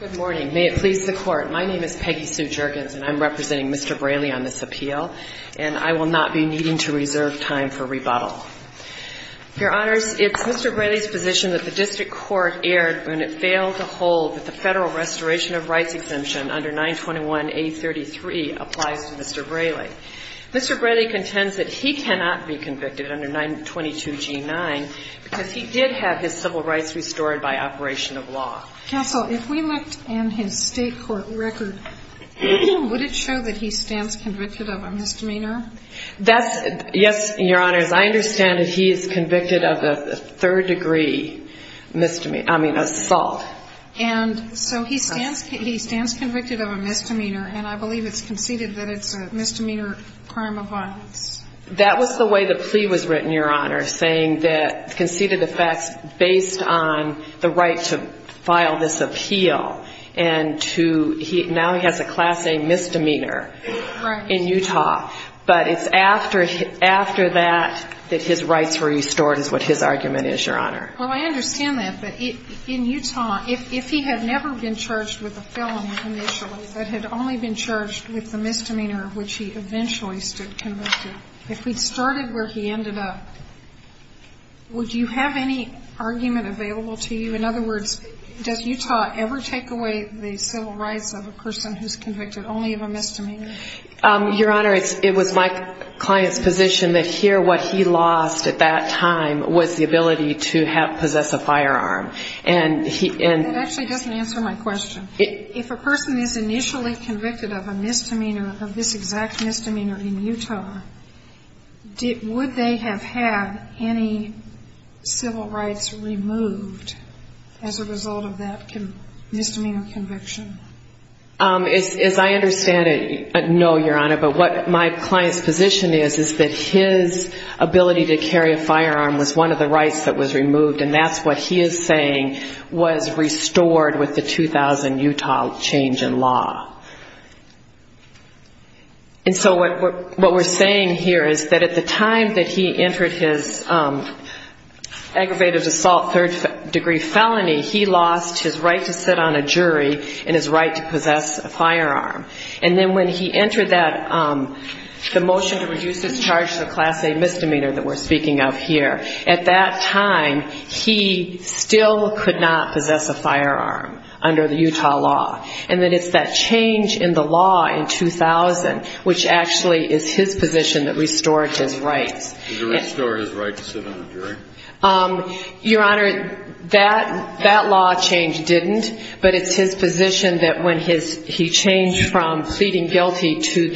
Good morning. May it please the Court, my name is Peggy Sue Jergens and I'm representing Mr. Brailey on this appeal, and I will not be needing to reserve time for rebuttal. Your Honors, it's Mr. Brailey's position that the District Court erred when it failed to hold that the Federal Restoration of Rights Exemption under 921A.33 applies to Mr. Brailey. Mr. Brailey contends that he cannot be convicted under 922G.9 because he did have his civil law. Counsel, if we looked in his State Court record, would it show that he stands convicted of a misdemeanor? That's, yes, Your Honors, I understand that he is convicted of a third degree misdemeanor, I mean assault. And so he stands, he stands convicted of a misdemeanor and I believe it's conceded that it's a misdemeanor crime of violence. That was the way the plea was written, Your Honor, saying that conceded the facts based on the right to file this appeal and to, now he has a class A misdemeanor in Utah, but it's after that that his rights were restored is what his argument is, Your Honor. Well, I understand that, but in Utah, if he had never been charged with a felony initially, but had only been charged with the misdemeanor which he eventually stood convicted, if we'd charted where he ended up, would you have any argument available to you? In other words, does Utah ever take away the civil rights of a person who's convicted only of a misdemeanor? Your Honor, it was my client's position that here what he lost at that time was the ability to have, possess a firearm. And he, and That actually doesn't answer my question. If a person is initially convicted of a misdemeanor, of this exact misdemeanor in Utah, would they have had any civil rights removed as a result of that misdemeanor conviction? As I understand it, no, Your Honor. But what my client's position is, is that his ability to carry a firearm was one of the rights that was removed. And that's what he is saying was restored with the 2000 Utah change in law. And so what we're saying here is that at the time that he entered his aggravated assault third degree felony, he lost his right to sit on a jury and his right to possess a firearm. And then when he entered that, the motion to reduce his charge to the Class A misdemeanor that we're speaking of here, at that time, he still could not possess a firearm under the Utah law. And that it's that change in the law in 2000, which actually is his position that restored his rights. Did it restore his right to sit on a jury? Your Honor, that law change didn't, but it's his position that when he changed from pleading assault, the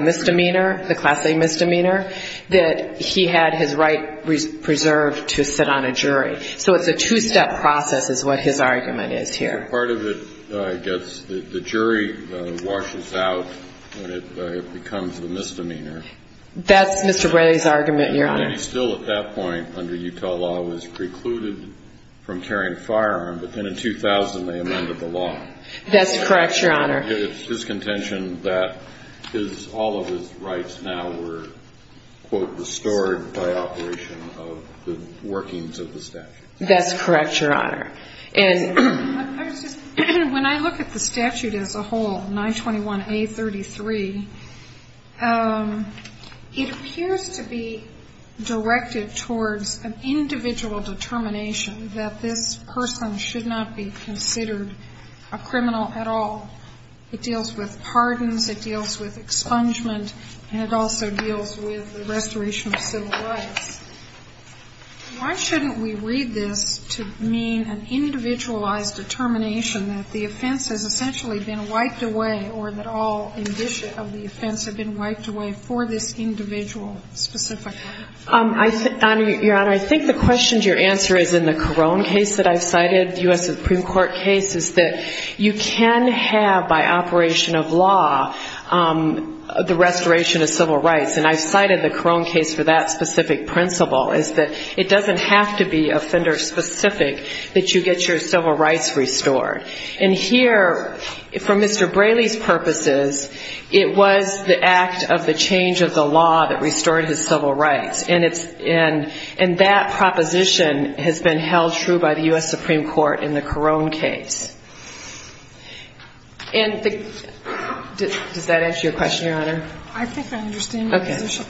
misdemeanor, the Class A misdemeanor, that he had his right preserved to sit on a jury. So it's a two-step process is what his argument is here. So part of it gets, the jury washes out when it becomes the misdemeanor. That's Mr. Bradley's argument, Your Honor. And he still at that point under Utah law was precluded from carrying a firearm, but then in 2000 they amended the law. That's correct, Your Honor. It's his contention that all of his rights now were, quote, restored by operation of the workings of the statute. That's correct, Your Honor. When I look at the statute as a whole, 921A.33, it appears to be directed towards an individual determination that this person should not be considered a criminal at all. It deals with pardons, it deals with expungement, and it also deals with the restoration of civil rights. Why shouldn't we read this to mean an individualized determination that the offense has essentially been wiped away, or that all indicia of the offense have been wiped away for this individual specifically? Your Honor, I think the question to your answer is in the Carone case that I've cited, the U.S. Supreme Court case, is that you can have by operation of law the restoration of civil rights. And I've cited the Carone case for that specific principle is that it doesn't have to be offender specific that you get your civil rights restored. And here, for Mr. Bradley's purposes, it was the act of the change of the law that restored his civil rights. And that proposition has been held true by the U.S. Supreme Court in the Carone case. Does that answer your question, Your Honor? I think I understand your position.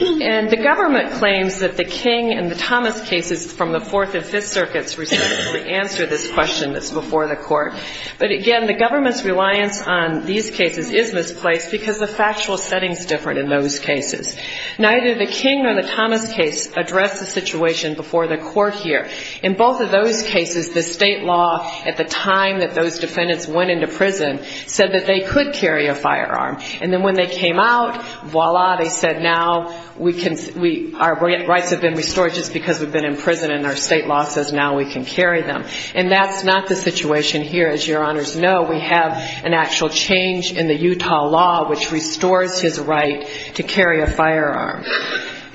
And the government claims that the King and the Thomas cases from the Fourth and Fifth Circuits responsibly answer this question that's before the court. But again, the government's reliance on these cases is misplaced because the factual setting is different in those cases. Neither the King nor the Thomas case address the situation before the court here. In both of those cases, the state law at the time that those defendants went into prison said that they could carry a firearm. And then when they came out, voila, they said now our rights have been restored just because we've been in prison. And our state law says now we can carry them. And that's not the situation here, as Your Honors know. We have an actual change in the Utah law which restores his right to carry a firearm.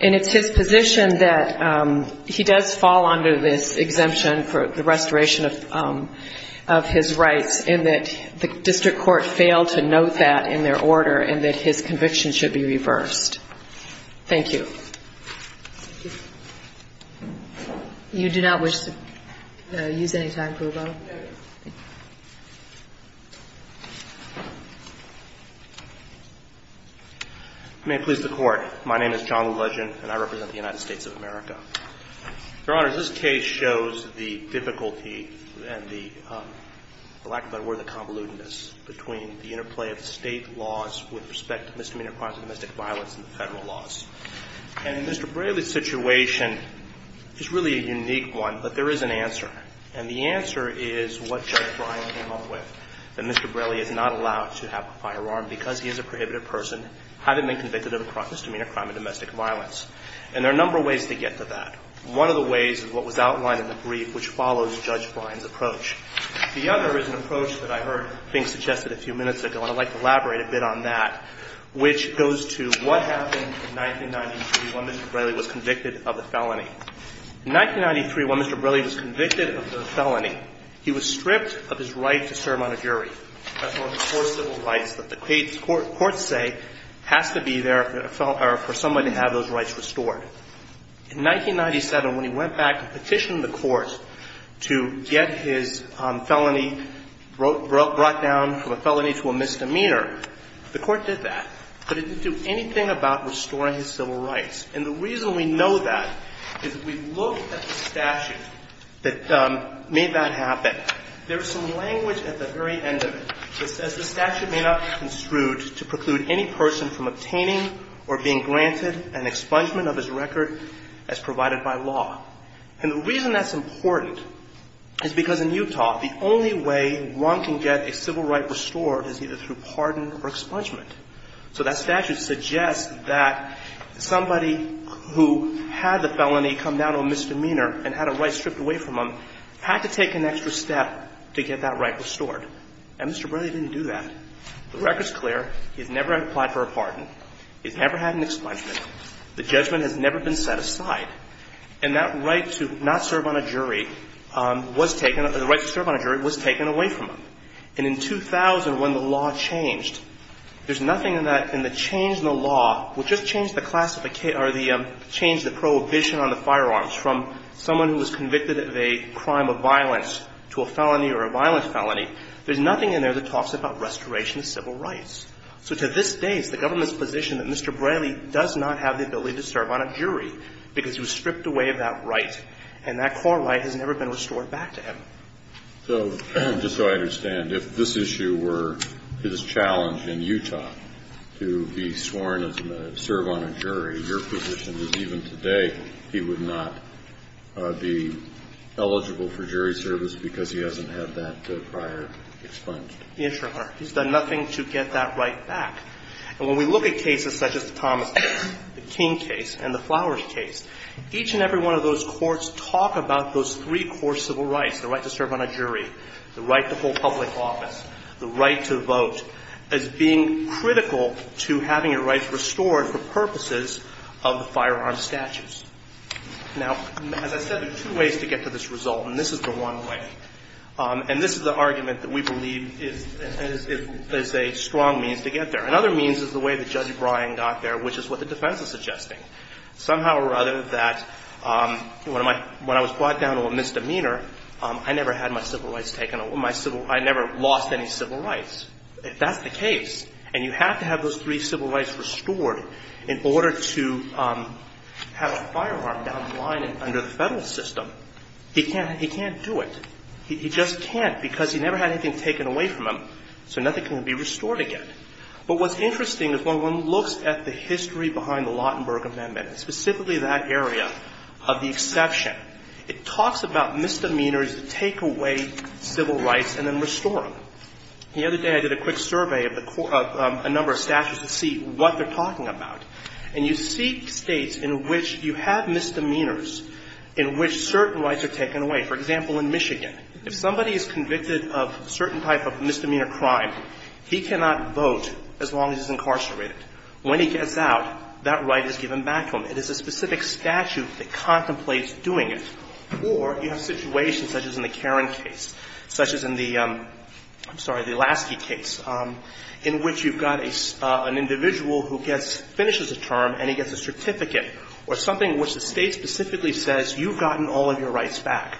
And it's his position that he does fall under this exemption for the restoration of his rights and that the district court failed to note that in their order and that his conviction should be reversed. Thank you. You do not wish to use any time, Pruvo? No, Your Honor. You may please the court. My name is John Legend, and I represent the United States of America. Your Honors, this case shows the difficulty and the lack of a better word than convolutedness between the interplay of state laws with respect to misdemeanor crimes and domestic violence and the federal laws. And Mr. Braley's situation is really a unique one, but there is an answer. And the answer is what Judge Bryan came up with, that Mr. Braley is not allowed to have a firearm because he is a prohibited person, hadn't been convicted of a misdemeanor crime and domestic violence. And there are a number of ways to get to that. One of the ways is what was outlined in the brief which follows Judge Bryan's approach. The other is an approach that I heard being suggested a few minutes ago, and I'd like to elaborate a bit on that, which goes to what happened in 1993 when Mr. Braley was convicted of a felony. In 1993, when Mr. Braley was convicted of the felony, he was stripped of his right to serve on a jury. That's one of the core civil rights that the courts say has to be there for someone to have those rights restored. In 1997, when he went back and petitioned the courts to get his felony brought down from a felony to a misdemeanor, the court did that. But it didn't do anything about restoring his civil rights. And the reason we know that is if we look at the statute that made that happen, there is some language at the very end of it that says the statute may not be construed to preclude any person from obtaining or being granted an expungement of his record as provided by law. And the reason that's important is because in Utah the only way one can get a civil right restored is either through pardon or expungement. So that statute suggests that somebody who had the felony come down to a misdemeanor and had a right stripped away from him had to take an extra step to get that right restored. And Mr. Braley didn't do that. The record's clear. He's never applied for a pardon. He's never had an expungement. The judgment has never been set aside. And that right to not serve on a jury was taken or the right to serve on a jury was taken away from him. And in 2000, when the law changed, there's nothing in that. And the change in the law will just change the classification or the change of the prohibition on the firearms from someone who was convicted of a crime of violence to a felony or a violent felony. There's nothing in there that talks about restoration of civil rights. So to this day, it's the government's position that Mr. Braley does not have the ability to serve on a jury because he was stripped away of that right. And that core right has never been restored back to him. So just so I understand, if this issue were his challenge in Utah to be sworn to serve on a jury, your position is even today he would not be eligible for jury service because he hasn't had that prior expungement. Yes, Your Honor. He's done nothing to get that right back. And when we look at cases such as the Thomas King case and the Flowers case, each and every one of those courts talk about those three core civil rights, the right to serve on a jury, the right to full public office, the right to vote, as being critical to having your rights restored for purposes of the firearm statutes. Now, as I said, there are two ways to get to this result, and this is the one way. And this is the argument that we believe is a strong means to get there. Another means is the way that Judge Bryan got there, which is what the defense is suggesting. Somehow or other that when I was brought down to a misdemeanor, I never had my civil rights taken away. I never lost any civil rights. If that's the case, and you have to have those three civil rights restored in order to have a firearm down the line under the federal system, he can't do it. He just can't because he never had anything taken away from him. So nothing can be restored again. But what's interesting is when one looks at the history behind the Lautenberg Amendment, specifically that area of the exception, it talks about misdemeanors that take away civil rights and then restore them. The other day I did a quick survey of the court of a number of statutes to see what they're talking about. And you see States in which you have misdemeanors in which certain rights are taken away. For example, in Michigan, if somebody is convicted of a certain type of misdemeanor crime, he cannot vote as long as he's incarcerated. When he gets out, that right is given back to him. It is a specific statute that contemplates doing it. Or you have situations such as in the Caron case, such as in the — I'm sorry, the Lasky case, in which you've got an individual who gets — finishes a term and he gets a certificate, or something which the State specifically says, you've gotten all of your rights back.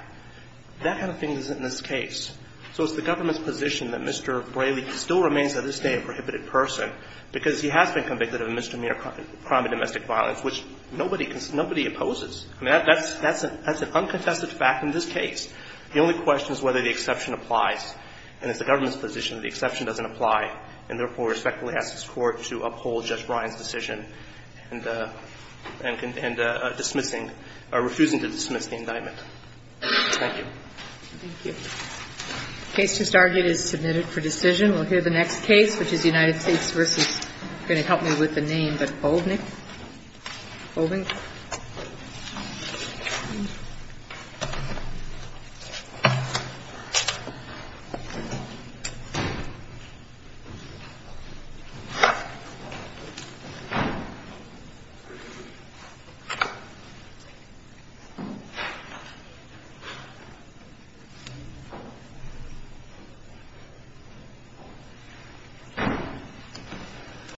That kind of thing isn't in this case. So it's the government's position that Mr. Braley still remains to this day a prohibited person because he has been convicted of a misdemeanor crime of domestic violence, which nobody opposes. I mean, that's an uncontested fact in this case. The only question is whether the exception applies. And it's the government's position that the exception doesn't apply, and therefore we respectfully ask this Court to uphold Judge Ryan's decision and dismissing — refusing to dismiss the indictment. Thank you. Thank you. The case just argued is submitted for decision. We'll hear the next case, which is United States v. — you're going to help me with the name, but Bovink. Bovink. Thank you.